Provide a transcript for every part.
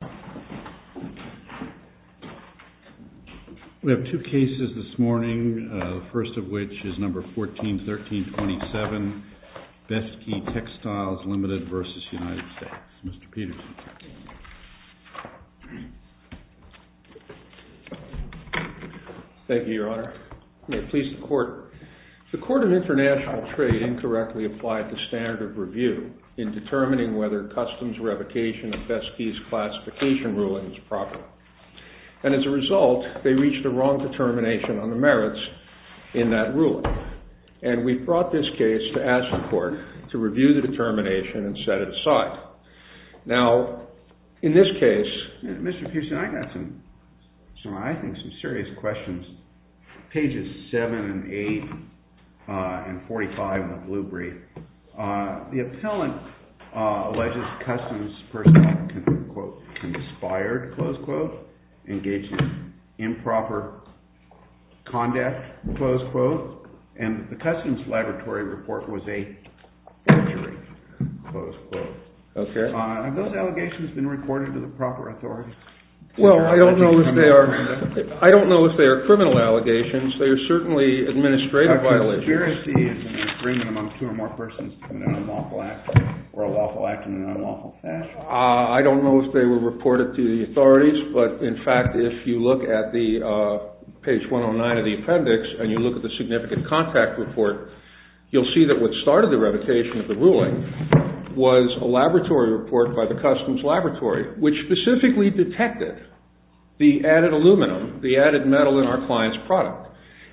We have two cases this morning, the first of which is No. 14-1327, Best Key Textiles Ltd. v. United States. Mr. Peterson. Thank you, Your Honor. May it please the Court. The Court of International Trade incorrectly applied the standard of review in determining whether customs revocation of Best Keys classification ruling was proper. And as a result, they reached a wrong determination on the merits in that ruling. And we brought this case to ask the Court to review the determination and set it aside. Now, in this case, Mr. Peterson, I've got some serious questions. Pages 7 and 8 and 45 in the blue brief. The appellant alleges customs personnel, quote, conspired, close quote, engaged in improper conduct, close quote, and the customs laboratory report was a forgery, close quote. Okay. Have those allegations been reported to the proper authorities? Well, I don't know if they are criminal allegations. They are certainly administrative violations. Is there a discrepancy in the agreement among two or more persons in an unlawful act or a lawful act in an unlawful fashion? I don't know if they were reported to the authorities, but in fact, if you look at page 109 of the appendix and you look at the significant contract report, you'll see that what started the revocation of the ruling was a laboratory report by the customs laboratory, which specifically detected the added aluminum, the added metal in our client's product.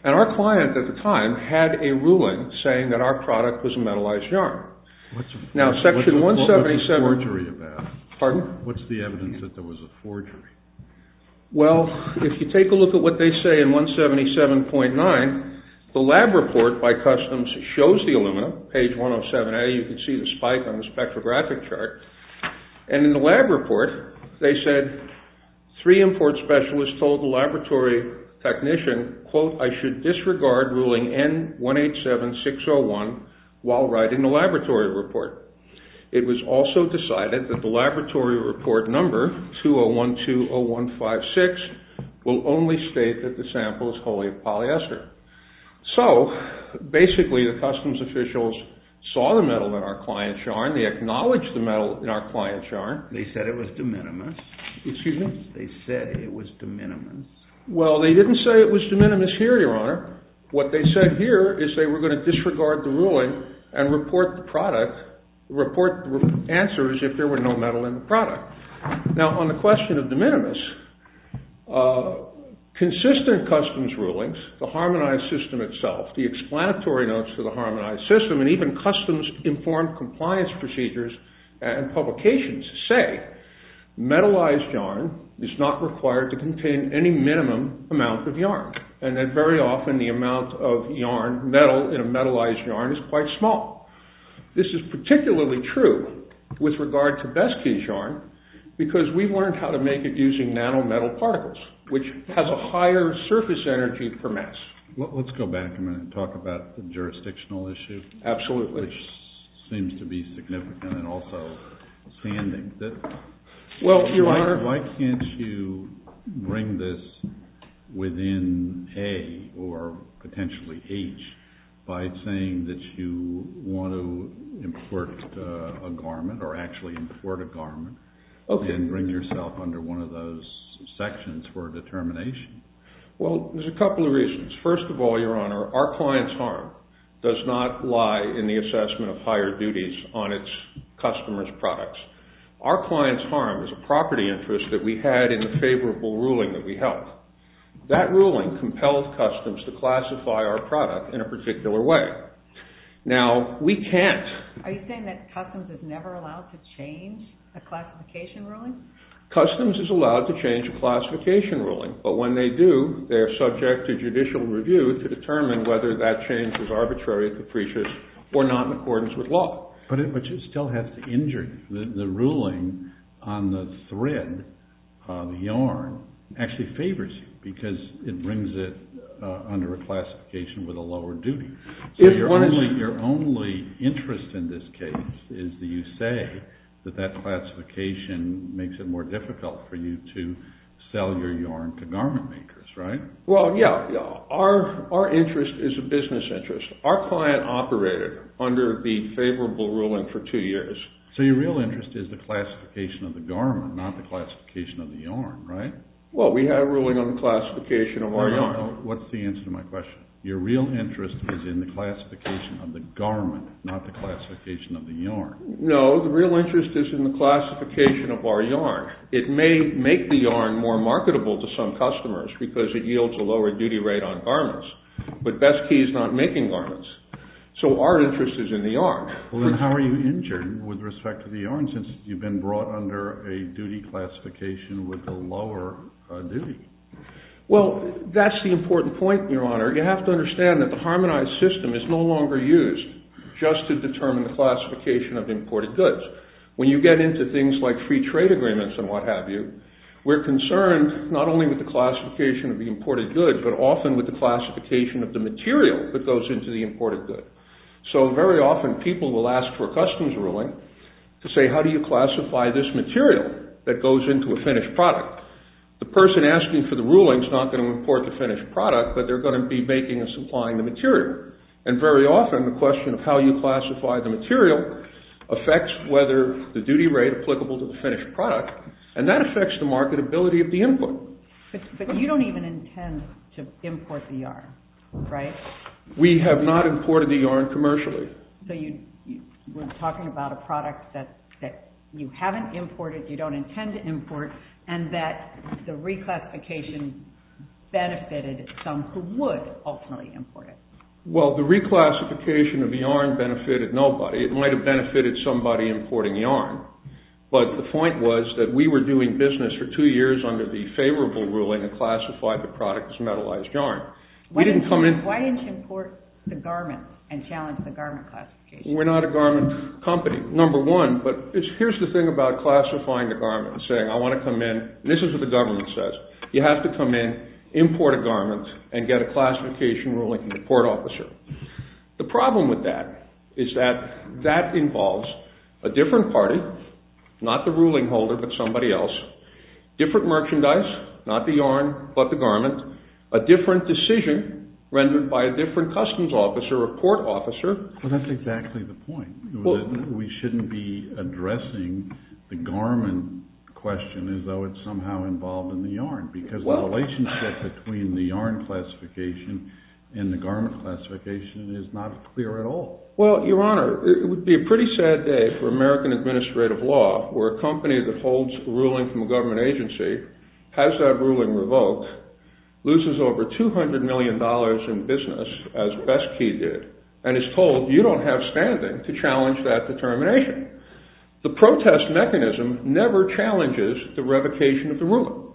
And our client at the time had a ruling saying that our product was a metallized yarn. What's the forgery about? Pardon? What's the evidence that there was a forgery? Well, if you take a look at what they say in 177.9, the lab report by customs shows the aluminum, page 107A, you can see the spike on the spectrographic chart. And in the lab report, they said three import specialists told the laboratory technician, quote, I should disregard ruling N187601 while writing the laboratory report. It was also decided that the laboratory report number, 20120156, will only state that the sample is wholly of polyester. So basically, the customs officials saw the metal in our client's yarn. They acknowledged the metal in our client's yarn. They said it was de minimis. Excuse me? They said it was de minimis. Well, they didn't say it was de minimis here, Your Honor. What they said here is they were going to disregard the ruling and report the product, report the answers if there were no metal in the product. Now, on the question of de minimis, consistent customs rulings, the harmonized system itself, the explanatory notes for the harmonized system, and even customs-informed compliance procedures and publications say metallized yarn is not required to contain any minimum amount of yarn, and that very often the amount of metal in a metallized yarn is quite small. This is particularly true with regard to Besky's yarn because we learned how to make it using nanometal particles, which has a higher surface energy per mass. Let's go back a minute and talk about the jurisdictional issue. Absolutely. Which seems to be significant and also standing. Why can't you bring this within A or potentially H by saying that you want to import a garment or actually import a garment and bring yourself under one of those sections for determination? Well, there's a couple of reasons. First of all, Your Honor, our client's harm does not lie in the assessment of higher duties on its customer's products. Our client's harm is a property interest that we had in the favorable ruling that we held. That ruling compelled customs to classify our product in a particular way. Now, we can't. Are you saying that customs is never allowed to change a classification ruling? Customs is allowed to change a classification ruling, but when they do, they are subject to judicial review to determine whether that change is arbitrary, capricious, or not in accordance with law. But it still has to injure you. The ruling on the thread of yarn actually favors you because it brings it under a classification with a lower duty. Your only interest in this case is that you say that that classification makes it more difficult for you to sell your yarn to garment makers, right? Well, yeah. Our interest is a business interest. Our client operated under the favorable ruling for two years. So your real interest is the classification of the garment, not the classification of the yarn, right? Well, we have a ruling on the classification of our yarn. No, no, no. What's the answer to my question? Your real interest is in the classification of the garment, not the classification of the yarn. No, the real interest is in the classification of our yarn. It may make the yarn more marketable to some customers because it yields a lower duty rate on garments. But best key is not making garments. So our interest is in the yarn. Well, then how are you injured with respect to the yarn since you've been brought under a duty classification with a lower duty? Well, that's the important point, Your Honor. You have to understand that the harmonized system is no longer used just to determine the classification of imported goods. When you get into things like free trade agreements and what have you, we're concerned not only with the classification of the imported goods, but often with the classification of the material that goes into the imported goods. So very often people will ask for a customs ruling to say, how do you classify this material that goes into a finished product? The person asking for the ruling is not going to import the finished product, but they're going to be making and supplying the material. And very often the question of how you classify the material affects whether the duty rate applicable to the finished product, and that affects the marketability of the input. But you don't even intend to import the yarn, right? We have not imported the yarn commercially. So you're talking about a product that you haven't imported, you don't intend to import, and that the reclassification benefited some who would ultimately import it. Well, the reclassification of yarn benefited nobody. It might have benefited somebody importing yarn. But the point was that we were doing business for two years under the favorable ruling that classified the product as metallized yarn. Why didn't you import the garment and challenge the garment classification? We're not a garment company, number one. But here's the thing about classifying a garment, saying I want to come in, and this is what the government says, you have to come in, import a garment, and get a classification ruling from the court officer. The problem with that is that that involves a different party, not the ruling holder but somebody else, different merchandise, not the yarn but the garment, a different decision rendered by a different customs officer or court officer. Well, that's exactly the point. We shouldn't be addressing the garment question as though it's somehow involved in the yarn because the relationship between the yarn classification and the garment classification is not clear at all. Well, Your Honor, it would be a pretty sad day for American administrative law where a company that holds a ruling from a government agency has that ruling revoked, loses over $200 million in business, as Besky did, and is told you don't have standing to challenge that determination. The protest mechanism never challenges the revocation of the ruling.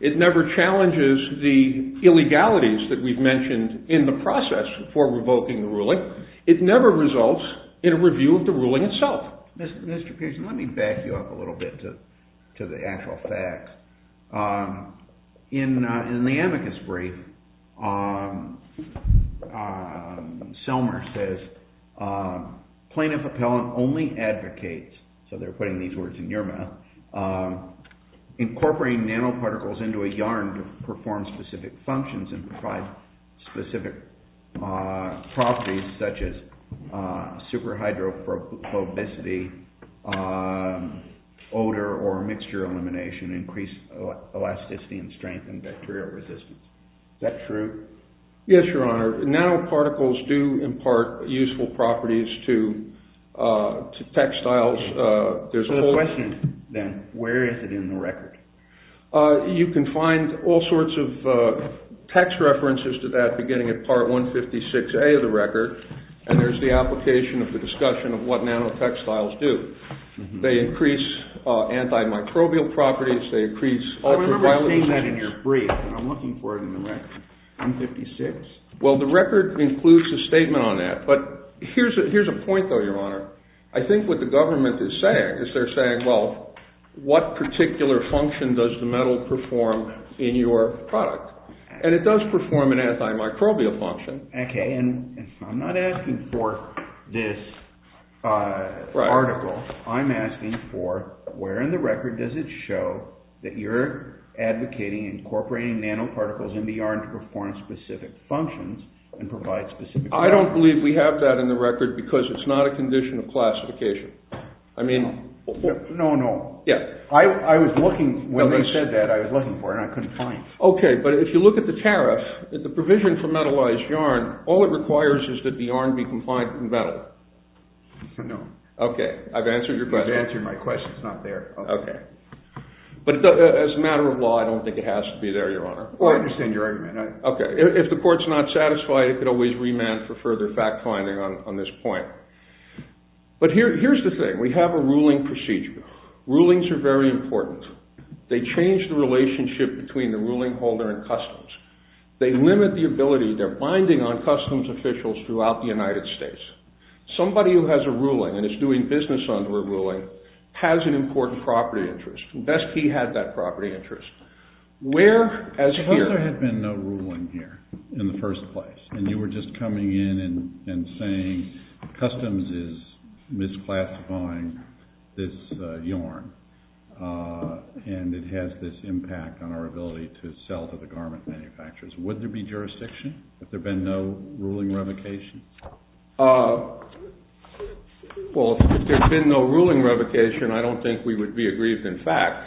It never challenges the illegalities that we've mentioned in the process for revoking the ruling. It never results in a review of the ruling itself. Mr. Pearson, let me back you up a little bit to the actual facts. In the amicus brief, Selmer says plaintiff appellant only advocates, so they're putting these words in your mouth, incorporating nanoparticles into a yarn to perform specific functions and provide specific properties such as superhydrophobicity, odor or mixture elimination, increased elasticity and strength, and bacterial resistance. Is that true? Yes, Your Honor. Nanoparticles do impart useful properties to textiles. There's a question, then. Where is it in the record? You can find all sorts of text references to that beginning at Part 156A of the record, and there's the application of the discussion of what nanotextiles do. They increase antimicrobial properties. I remember seeing that in your brief, and I'm looking for it in the record. 156? Well, the record includes a statement on that. But here's a point, though, Your Honor. I think what the government is saying is they're saying, well, what particular function does the metal perform in your product? And it does perform an antimicrobial function. Okay, and I'm not asking for this article. I'm asking for where in the record does it show that you're advocating incorporating nanoparticles in the yarn to perform specific functions and provide specific properties. I don't believe we have that in the record because it's not a condition of classification. No, no. I was looking when they said that. I was looking for it, and I couldn't find it. Okay, but if you look at the tariff, the provision for metallized yarn, all it requires is that the yarn be compliant with the metal. No. Okay, I've answered your question. You've answered my question. It's not there. Okay. But as a matter of law, I don't think it has to be there, Your Honor. I understand your argument. Okay. If the court's not satisfied, it could always remand for further fact-finding on this point. But here's the thing. We have a ruling procedure. Rulings are very important. They change the relationship between the ruling holder and customs. They limit the ability they're binding on customs officials throughout the United States. Somebody who has a ruling and is doing business under a ruling has an important property interest. Best he had that property interest. Where, as here... Suppose there had been no ruling here in the first place, and you were just coming in and saying customs is misclassifying this yarn, and it has this impact on our ability to sell to the garment manufacturers. Would there be jurisdiction if there had been no ruling revocation? Well, if there had been no ruling revocation, I don't think we would be aggrieved in fact,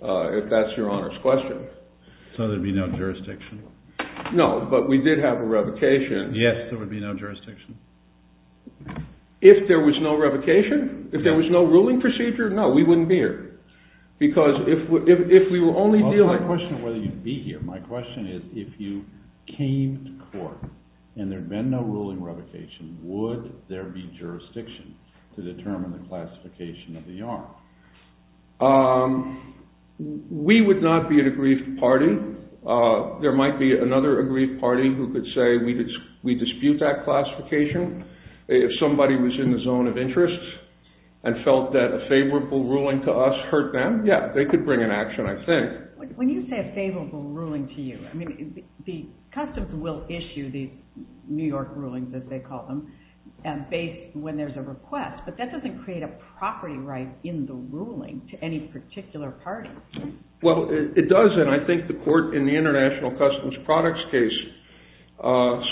if that's Your Honor's question. So there would be no jurisdiction? No, but we did have a revocation. Yes, there would be no jurisdiction. If there was no revocation? If there was no ruling procedure? No, we wouldn't be here. Because if we were only dealing... My question is whether you'd be here. My question is if you came to court and there had been no ruling revocation, would there be jurisdiction to determine the classification of the yarn? We would not be an aggrieved party. There might be another aggrieved party who could say we dispute that classification. If somebody was in the zone of interest and felt that a favorable ruling to us hurt them, yeah, they could bring an action, I think. When you say a favorable ruling to you, I mean the customs will issue these New York rulings, as they call them, when there's a request, but that doesn't create a property right in the ruling to any particular party. Well, it does, and I think the court in the international customs products case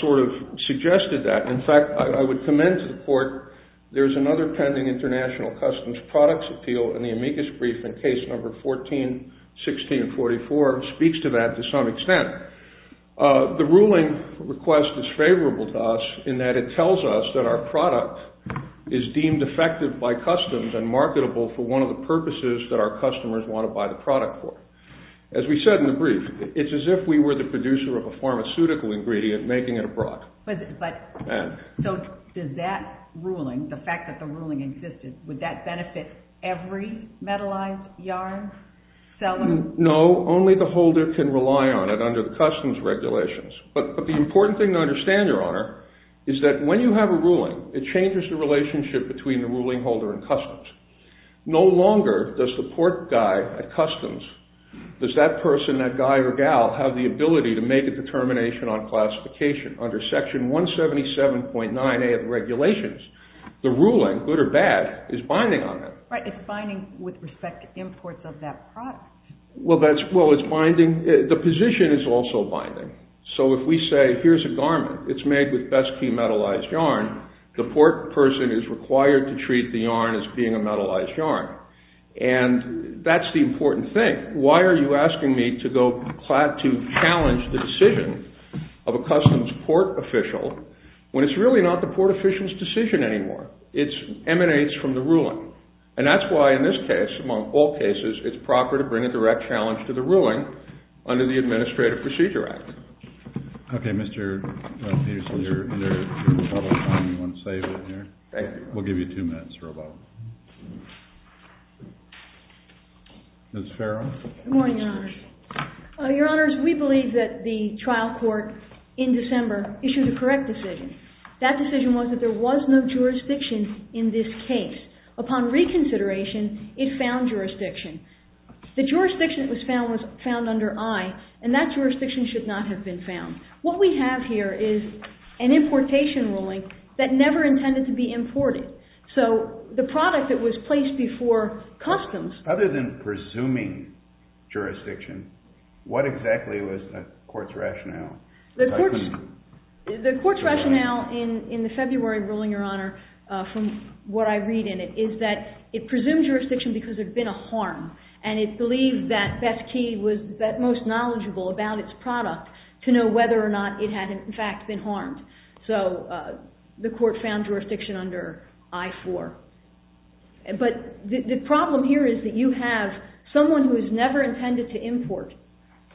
sort of suggested that. In fact, I would commend to the court there's another pending international customs products appeal in the amicus brief in case number 14-16-44, speaks to that to some extent. The ruling request is favorable to us in that it tells us that our product is deemed effective by customs and marketable for one of the purposes that our customers want to buy the product for. As we said in the brief, it's as if we were the producer of a pharmaceutical ingredient making it abroad. So does that ruling, the fact that the ruling existed, would that benefit every metallized yarn seller? No, only the holder can rely on it under the customs regulations. But the important thing to understand, Your Honor, is that when you have a ruling, it changes the relationship between the ruling holder and customs. No longer does the port guy at customs, does that person, that guy or gal, have the ability to make a determination on classification under Section 177.9A of the regulations. The ruling, good or bad, is binding on that. Right, it's binding with respect to imports of that product. Well, it's binding, the position is also binding. So if we say, here's a garment, it's made with best key metallized yarn, the port person is required to treat the yarn as being a metallized yarn. And that's the important thing. Why are you asking me to challenge the decision of a customs port official when it's really not the port official's decision anymore? It emanates from the ruling. And that's why in this case, among all cases, it's proper to bring a direct challenge to the ruling under the Administrative Procedure Act. Okay, Mr. Peterson, you're in the public time, you want to save it here? Thank you. We'll give you two minutes or so. Ms. Farrell? Good morning, Your Honor. Your Honor, we believe that the trial court in December issued a correct decision. That decision was that there was no jurisdiction in this case. Upon reconsideration, it found jurisdiction. The jurisdiction that was found was found under I, and that jurisdiction should not have been found. What we have here is an importation ruling that never intended to be imported. So the product that was placed before customs... Other than presuming jurisdiction, what exactly was the court's rationale? The court's rationale in the February ruling, Your Honor, from what I read in it, is that it presumed jurisdiction because there had been a harm, and it believed that Beth Key was at most knowledgeable about its product to know whether or not it had in fact been harmed. So the court found jurisdiction under I-4. But the problem here is that you have someone who is never intended to import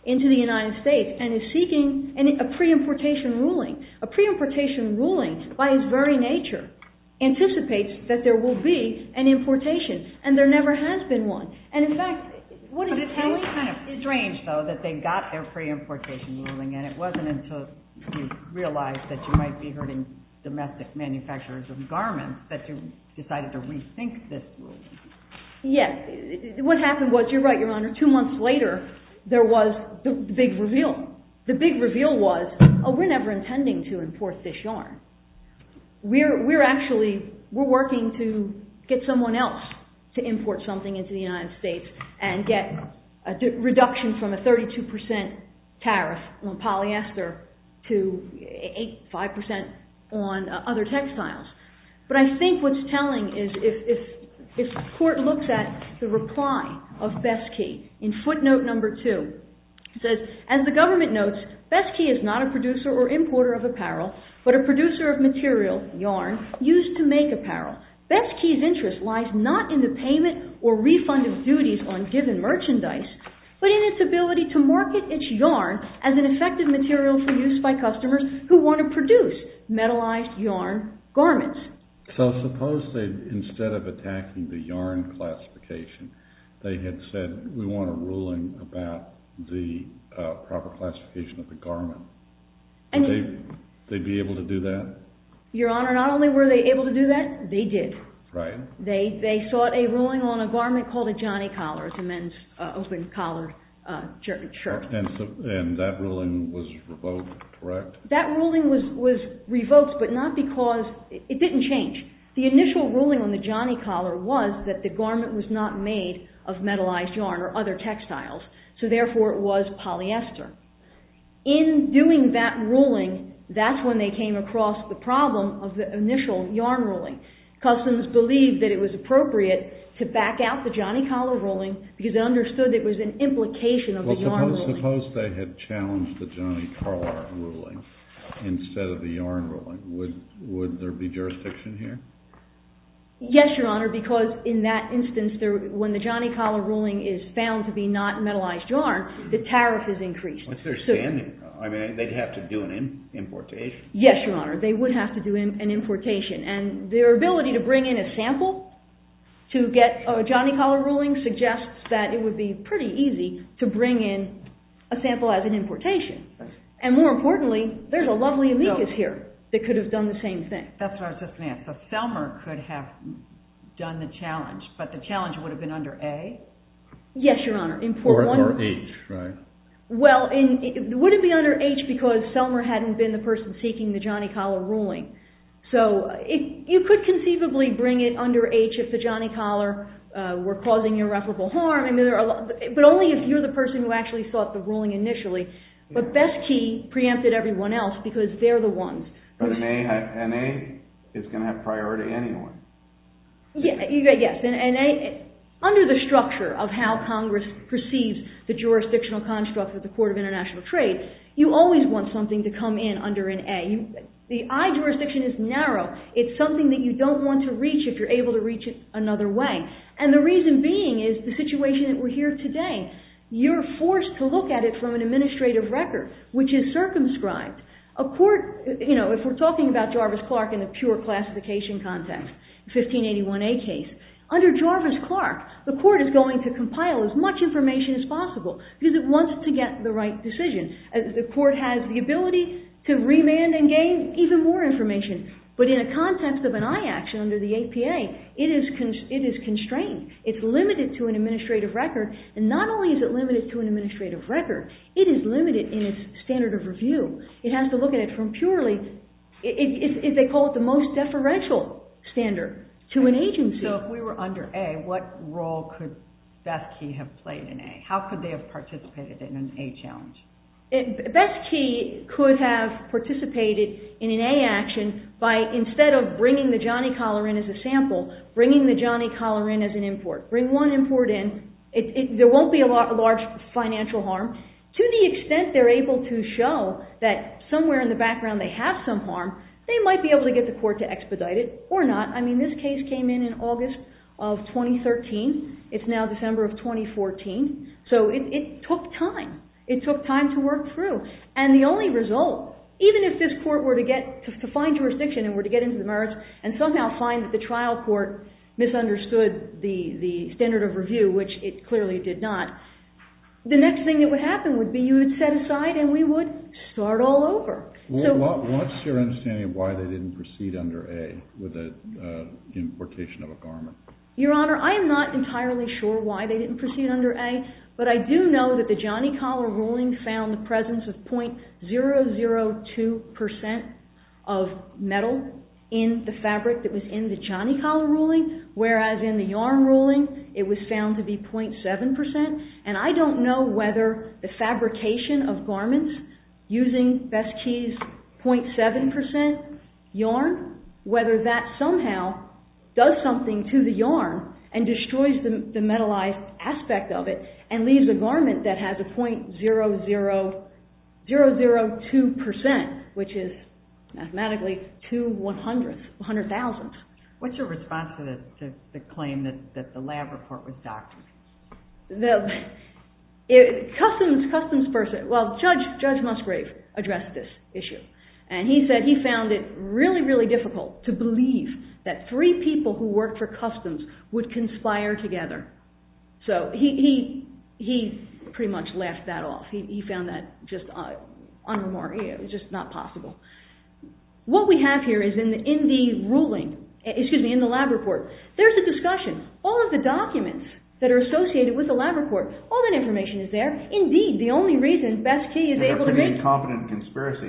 into the United States and is seeking a pre-importation ruling. A pre-importation ruling, by its very nature, anticipates that there will be an importation, and there never has been one. But it sounds kind of strange, though, that they got their pre-importation ruling, and it wasn't until you realized that you might be hurting domestic manufacturers of garments that you decided to rethink this ruling. Yes. What happened was, you're right, Your Honor, two months later there was the big reveal. The big reveal was, oh, we're never intending to import this yarn. We're actually working to get someone else to import something into the United States and get a reduction from a 32% tariff on polyester to 5% on other textiles. But I think what's telling is, if the court looks at the reply of Besky in footnote number two, it says, As the government notes, Besky is not a producer or importer of apparel, but a producer of material, yarn, used to make apparel. Besky's interest lies not in the payment or refund of duties on given merchandise, but in its ability to market its yarn as an effective material for use by customers who want to produce metallized yarn garments. So suppose that instead of attacking the yarn classification, they had said, we want a ruling about the proper classification of the garment. Would they be able to do that? Your Honor, not only were they able to do that, they did. Right. They sought a ruling on a garment called a Johnny Collar. It's a men's open-collared shirt. And that ruling was revoked, correct? That ruling was revoked, but not because, it didn't change. The initial ruling on the Johnny Collar was that the garment was not made of metallized yarn or other textiles, so therefore it was polyester. In doing that ruling, that's when they came across the problem of the initial yarn ruling. Customs believed that it was appropriate to back out the Johnny Collar ruling because they understood it was an implication of the yarn ruling. Suppose they had challenged the Johnny Collar ruling instead of the yarn ruling. Would there be jurisdiction here? Yes, Your Honor, because in that instance, when the Johnny Collar ruling is found to be not metallized yarn, the tariff is increased. I mean, they'd have to do an importation. Yes, Your Honor, they would have to do an importation. And their ability to bring in a sample to get a Johnny Collar ruling suggests that it would be pretty easy to bring in a sample as an importation. And more importantly, there's a lovely amicus here that could have done the same thing. That's what I was just going to ask. So Selmer could have done the challenge, but the challenge would have been under A? Yes, Your Honor. Or H, right? Well, would it be under H because Selmer hadn't been the person seeking the Johnny Collar ruling? So you could conceivably bring it under H if the Johnny Collar were causing irreparable harm. But only if you're the person who actually sought the ruling initially. But Best Key preempted everyone else because they're the ones. But an A is going to have priority anyway. Yes, under the structure of how Congress perceives the jurisdictional construct of the Court of International Trade, you always want something to come in under an A. The I jurisdiction is narrow. It's something that you don't want to reach if you're able to reach it another way. And the reason being is the situation that we're here today. You're forced to look at it from an administrative record, which is circumscribed. A court, you know, if we're talking about Jarvis-Clark in the pure classification context, 1581A case, under Jarvis-Clark, the court is going to compile as much information as possible because it wants to get the right decision. The court has the ability to remand and gain even more information. But in a context of an I action under the APA, it is constrained. It's limited to an administrative record. And not only is it limited to an administrative record, it is limited in its standard of review. It has to look at it from purely, they call it the most deferential standard to an agency. So if we were under A, what role could Best Key have played in A? How could they have participated in an A challenge? Best Key could have participated in an A action by instead of bringing the Johnny collar in as a sample, bringing the Johnny collar in as an import. Bring one import in. There won't be a large financial harm. To the extent they're able to show that somewhere in the background they have some harm, they might be able to get the court to expedite it or not. I mean, this case came in in August of 2013. It's now December of 2014. So it took time. It took time to work through. And the only result, even if this court were to get, to find jurisdiction and were to get into the merits and somehow find that the trial court misunderstood the standard of review, which it clearly did not, the next thing that would happen would be you would set aside and we would start all over. What's your understanding of why they didn't proceed under A with the importation of a garment? Your Honor, I am not entirely sure why they didn't proceed under A, but I do know that the Johnny collar ruling found the presence of 0.002% of metal in the fabric that was in the Johnny collar ruling, whereas in the yarn ruling it was found to be 0.7%. And I don't know whether the fabrication of garments using Besky's 0.7% yarn, whether that somehow does something to the yarn and destroys the metalized aspect of it and leaves a garment that has a 0.002%, which is mathematically two one-hundredths, one-hundred-thousandths. What's your response to the claim that the lab report was doctored? Judge Musgrave addressed this issue and he said he found it really, really difficult to believe that three people who worked for customs would conspire together. So he pretty much left that off. He found that just not possible. What we have here is in the lab report, there's a discussion. All of the documents that are associated with the lab report, all that information is there. Indeed, the only reason Besky is able to make... It's a pretty incompetent conspiracy.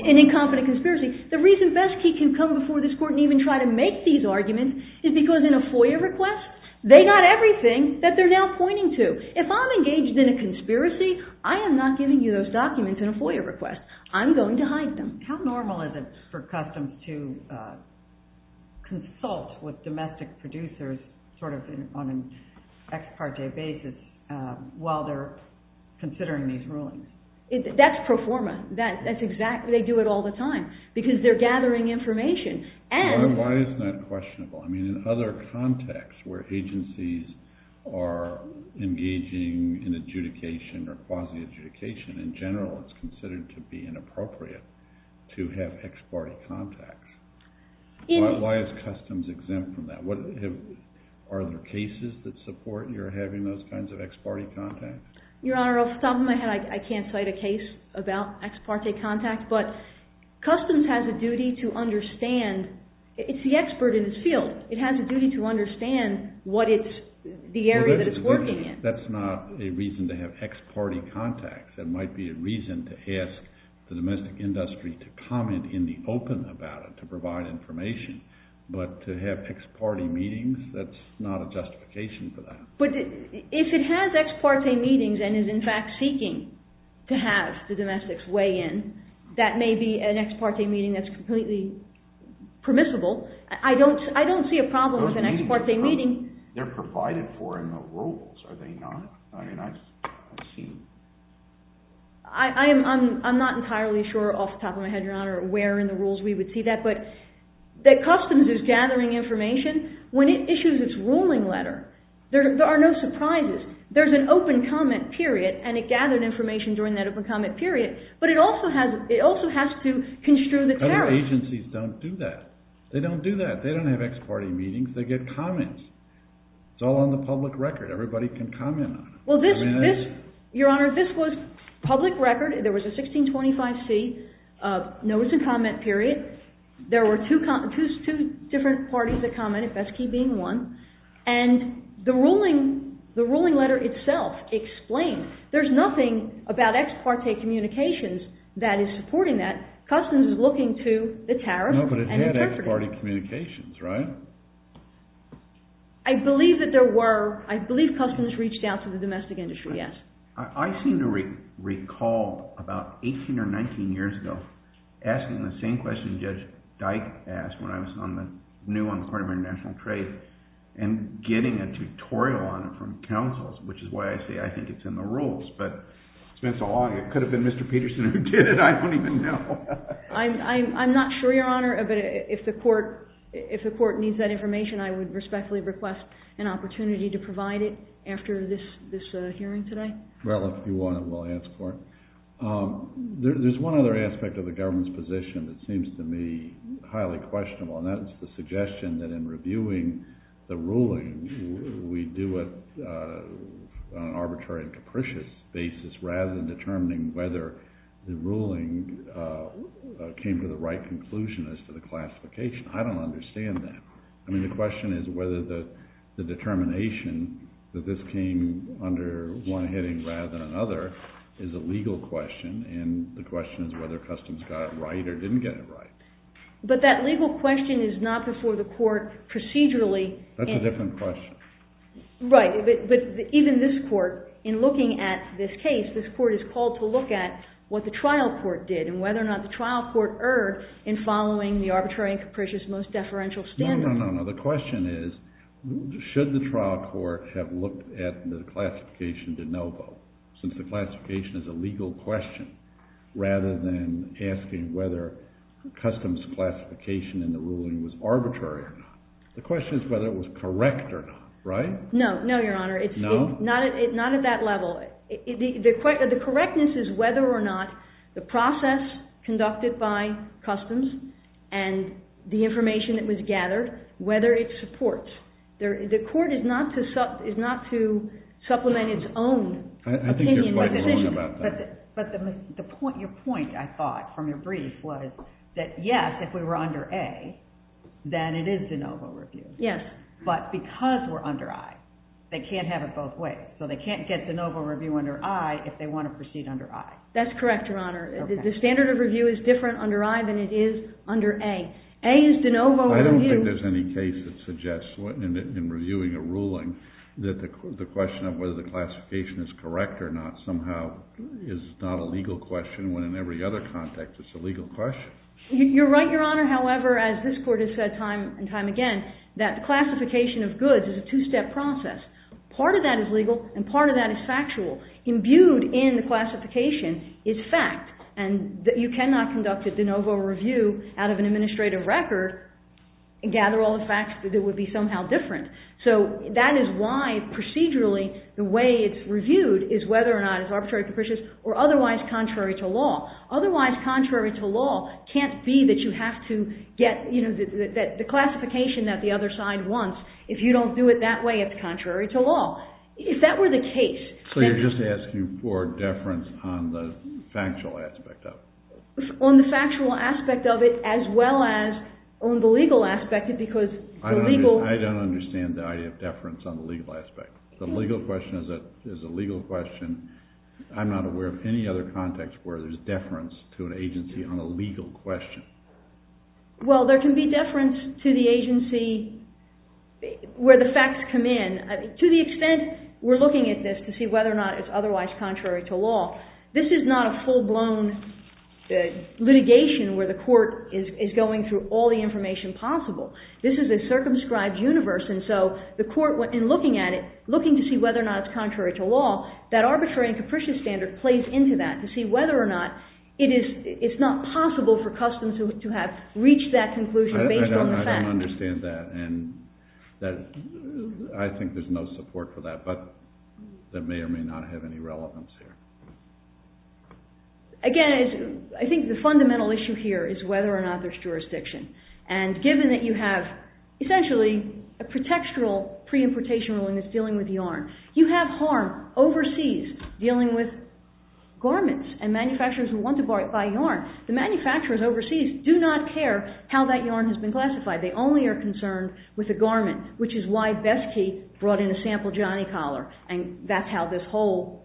An incompetent conspiracy. The reason Besky can come before this court and even try to make these arguments is because in a FOIA request, they got everything that they're now pointing to. If I'm engaged in a conspiracy, I am not giving you those documents in a FOIA request. I'm going to hide them. How normal is it for customs to consult with domestic producers on an ex parte basis while they're considering these rulings? That's pro forma. They do it all the time because they're gathering information. Why is that questionable? In other contexts where agencies are engaging in adjudication or quasi-adjudication, in general, it's considered to be inappropriate to have ex parte contacts. Why is customs exempt from that? Are there cases that support your having those kinds of ex parte contacts? Your Honor, I'll stop in my head. I can't cite a case about ex parte contacts, but customs has a duty to understand. It's the expert in its field. It has a duty to understand the area that it's working in. That's not a reason to have ex parte contacts. It might be a reason to ask the domestic industry to comment in the open about it, to provide information, but to have ex parte meetings, that's not a justification for that. If it has ex parte meetings and is in fact seeking to have the domestics weigh in, that may be an ex parte meeting that's completely permissible. I don't see a problem with an ex parte meeting. Those meetings are provided for in the rules, are they not? I mean, I've seen... I'm not entirely sure, off the top of my head, Your Honor, where in the rules we would see that, but that customs is gathering information when it issues its ruling letter. There are no surprises. There's an open comment period, and it gathered information during that open comment period, but it also has to construe the tariff. Other agencies don't do that. They don't do that. They don't have ex parte meetings. They get comments. It's all on the public record. Everybody can comment on it. Well, Your Honor, this was public record. There was a 1625c notice and comment period. There were two different parties that commented, Besky being one, and the ruling letter itself explained. There's nothing about ex parte communications that is supporting that. Customs is looking to the tariff... No, but it had ex parte communications, right? I believe that there were... I believe customs reached out to the domestic industry, yes. I seem to recall about 18 or 19 years ago asking the same question Judge Dyke asked when I was on the new, on the Court of International Trade, and getting a tutorial on it from counsels, which is why I say I think it's in the rules, but it's been so long, it could have been Mr. Peterson who did it. I don't even know. I'm not sure, Your Honor, but if the court needs that information, I would respectfully request an opportunity to provide it after this hearing today. Well, if you want it, we'll ask for it. There's one other aspect of the government's position that seems to me highly questionable, and that's the suggestion that in reviewing the ruling, we do it on an arbitrary and capricious basis rather than determining whether the ruling came to the right conclusion as to the classification. I don't understand that. I mean, the question is whether the determination that this came under one heading rather than another is a legal question, and the question is whether customs got it right or didn't get it right. But that legal question is not before the court procedurally. That's a different question. Right, but even this court, in looking at this case, this court is called to look at what the trial court did and whether or not the trial court erred in following the arbitrary and capricious most deferential standard. No, no, no, no. The question is should the trial court have looked at the classification de novo since the classification is a legal question rather than asking whether customs classification in the ruling was arbitrary or not. The question is whether it was correct or not, right? No, no, Your Honor. No? Not at that level. The correctness is whether or not the process conducted by customs and the information that was gathered, whether it supports. The court is not to supplement its own opinion. I think you're quite wrong about that. But your point, I thought, from your brief, was that yes, if we were under A, then it is de novo review. Yes. But because we're under I, they can't have it both ways. So they can't get de novo review under I if they want to proceed under I. That's correct, Your Honor. The standard of review is different under I than it is under A. A is de novo review. I don't think there's any case that suggests in reviewing a ruling that the question of whether the classification is correct or not it's a legal question. You're right, Your Honor. However, as this court has said time and time again, that the classification of goods is a two-step process. Part of that is legal and part of that is factual. Imbued in the classification is fact. And you cannot conduct a de novo review out of an administrative record and gather all the facts that would be somehow different. So that is why, procedurally, the way it's reviewed is whether or not it's arbitrary, capricious, or otherwise contrary to law. Otherwise contrary to law can't be that you have to get the classification that the other side wants if you don't do it that way. It's contrary to law. If that were the case. So you're just asking for deference on the factual aspect of it. On the factual aspect of it as well as on the legal aspect because the legal. I don't understand the idea of deference on the legal aspect. The legal question is a legal question. I'm not aware of any other context where there's deference to an agency on a legal question. Well, there can be deference to the agency where the facts come in. To the extent we're looking at this to see whether or not it's otherwise contrary to law. This is not a full-blown litigation where the court is going through all the information possible. This is a circumscribed universe. And so the court, in looking at it, looking to see whether or not it's contrary to law, that arbitrary and capricious standard plays into that to see whether or not it's not possible for customs to have reached that conclusion based on the facts. I don't understand that. And I think there's no support for that. But that may or may not have any relevance here. Again, I think the fundamental issue here is whether or not there's jurisdiction. And given that you have, essentially, a pretextual pre-importation ruling that's dealing with yarn, you have harm overseas dealing with garments and manufacturers who want to buy yarn. The manufacturers overseas do not care how that yarn has been classified. They only are concerned with the garment, which is why Besky brought in a sample Johnny Collar. And that's how this whole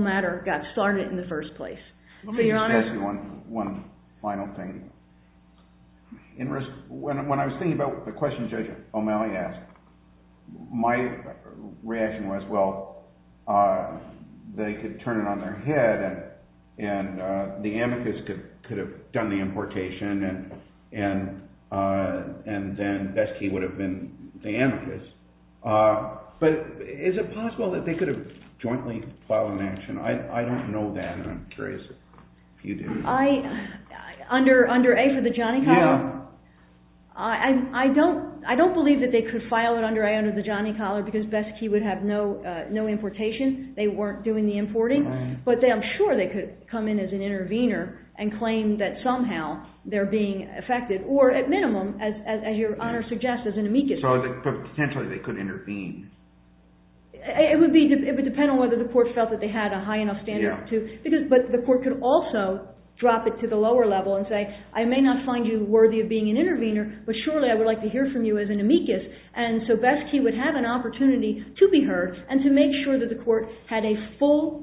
matter got started in the first place. Your Honor? Let me just ask you one final thing. When I was thinking about the question Judge O'Malley asked, my reaction was, well, they could turn it on their head and the amicus could have done the importation and then Besky would have been the amicus. But is it possible that they could have jointly filed an action? I don't know that, and I'm curious if you do. Under A for the Johnny Collar? Yeah. I don't believe that they could file it under A under the Johnny Collar because Besky would have no importation. They weren't doing the importing. But I'm sure they could come in as an intervener and claim that somehow they're being affected, or at minimum, as your Honor suggests, as an amicus. So potentially they could intervene. It would depend on whether the court felt that they had a high enough standard to. But the court could also drop it to the lower level and say, I may not find you worthy of being an intervener, but surely I would like to hear from you as an amicus. And so Besky would have an opportunity to be heard and to make sure that the court had a full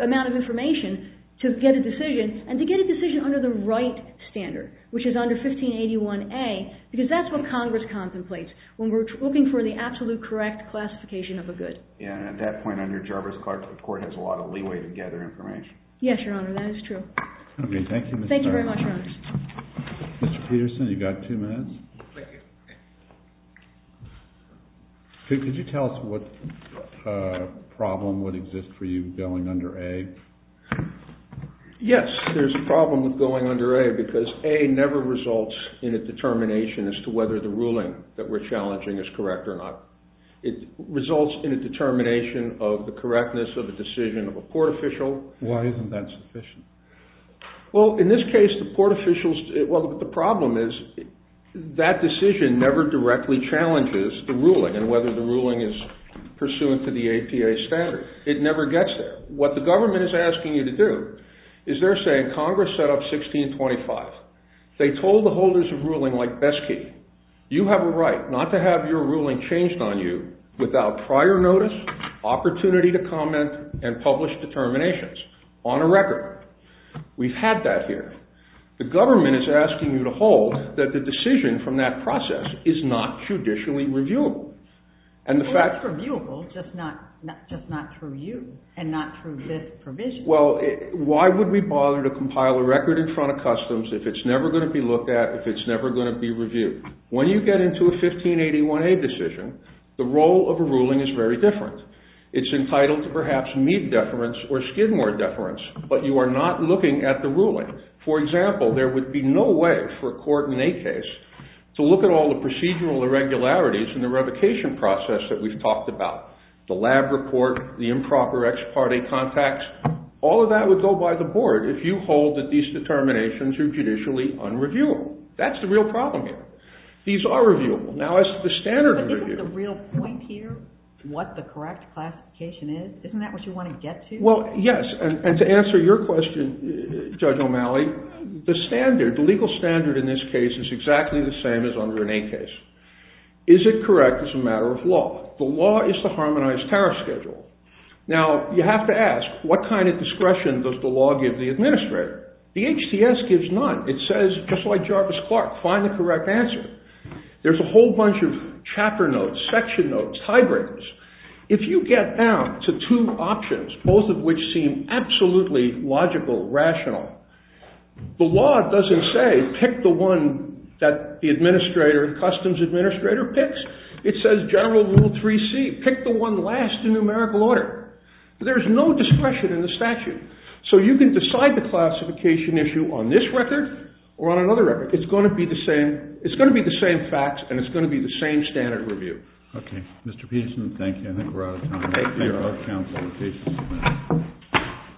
amount of information to get a decision, and to get a decision under the right standard, which is under 1581A, because that's what Congress contemplates when we're looking for the absolute correct classification of a good. Yeah, and at that point under Jarvis Clark, the court has a lot of leeway to gather information. Yes, your Honor, that is true. Thank you very much, Your Honor. Mr. Peterson, you've got two minutes. Thank you. Could you tell us what problem would exist for you going under A? Yes, there's a problem with going under A, because A never results in a determination as to whether the ruling that we're challenging is correct or not. It results in a determination of the correctness of a decision of a court official. Why isn't that sufficient? Well, in this case, the court officials... Well, the problem is that decision never directly challenges the ruling and whether the ruling is pursuant to the APA standard. It never gets there. What the government is asking you to do is they're saying, Congress set up 1625. They told the holders of ruling like Besky, you have a right not to have your ruling changed on you without prior notice, opportunity to comment, and published determinations on a record. We've had that here. The government is asking you to hold that the decision from that process is not judicially reviewable. Well, it's reviewable, just not through you and not through this provision. Well, why would we bother to compile a record in front of customs if it's never going to be looked at, if it's never going to be reviewed? When you get into a 1581A decision, the role of a ruling is very different. It's entitled to perhaps Mead deference or Skidmore deference, but you are not looking at the ruling. For example, there would be no way for a court in a case to look at all the procedural irregularities in the revocation process that we've talked about. The lab report, the improper ex parte contacts, all of that would go by the board if you hold that these determinations are judicially unreviewable. That's the real problem here. These are reviewable. Now, as to the standard review... But isn't the real point here what the correct classification is? Isn't that what you want to get to? Well, yes, and to answer your question, Judge O'Malley, the standard, the legal standard in this case is exactly the same as under an A case. Is it correct as a matter of law? The law is the harmonized tariff schedule. Now, you have to ask, what kind of discretion does the law give the administrator? The HTS gives none. It says, just like Jarvis Clark, find the correct answer. There's a whole bunch of chapter notes, section notes, tie breakers. If you get down to two options, both of which seem absolutely logical, rational, the law doesn't say, pick the one that the administrator, the customs administrator picks. It says, general rule 3C, pick the one last in numerical order. There's no discretion in the statute. So you can decide the classification issue on this record or on another record. It's going to be the same facts, and it's going to be the same standard review. Okay. Mr. Peterson, thank you. I think we're out of time. Thank you.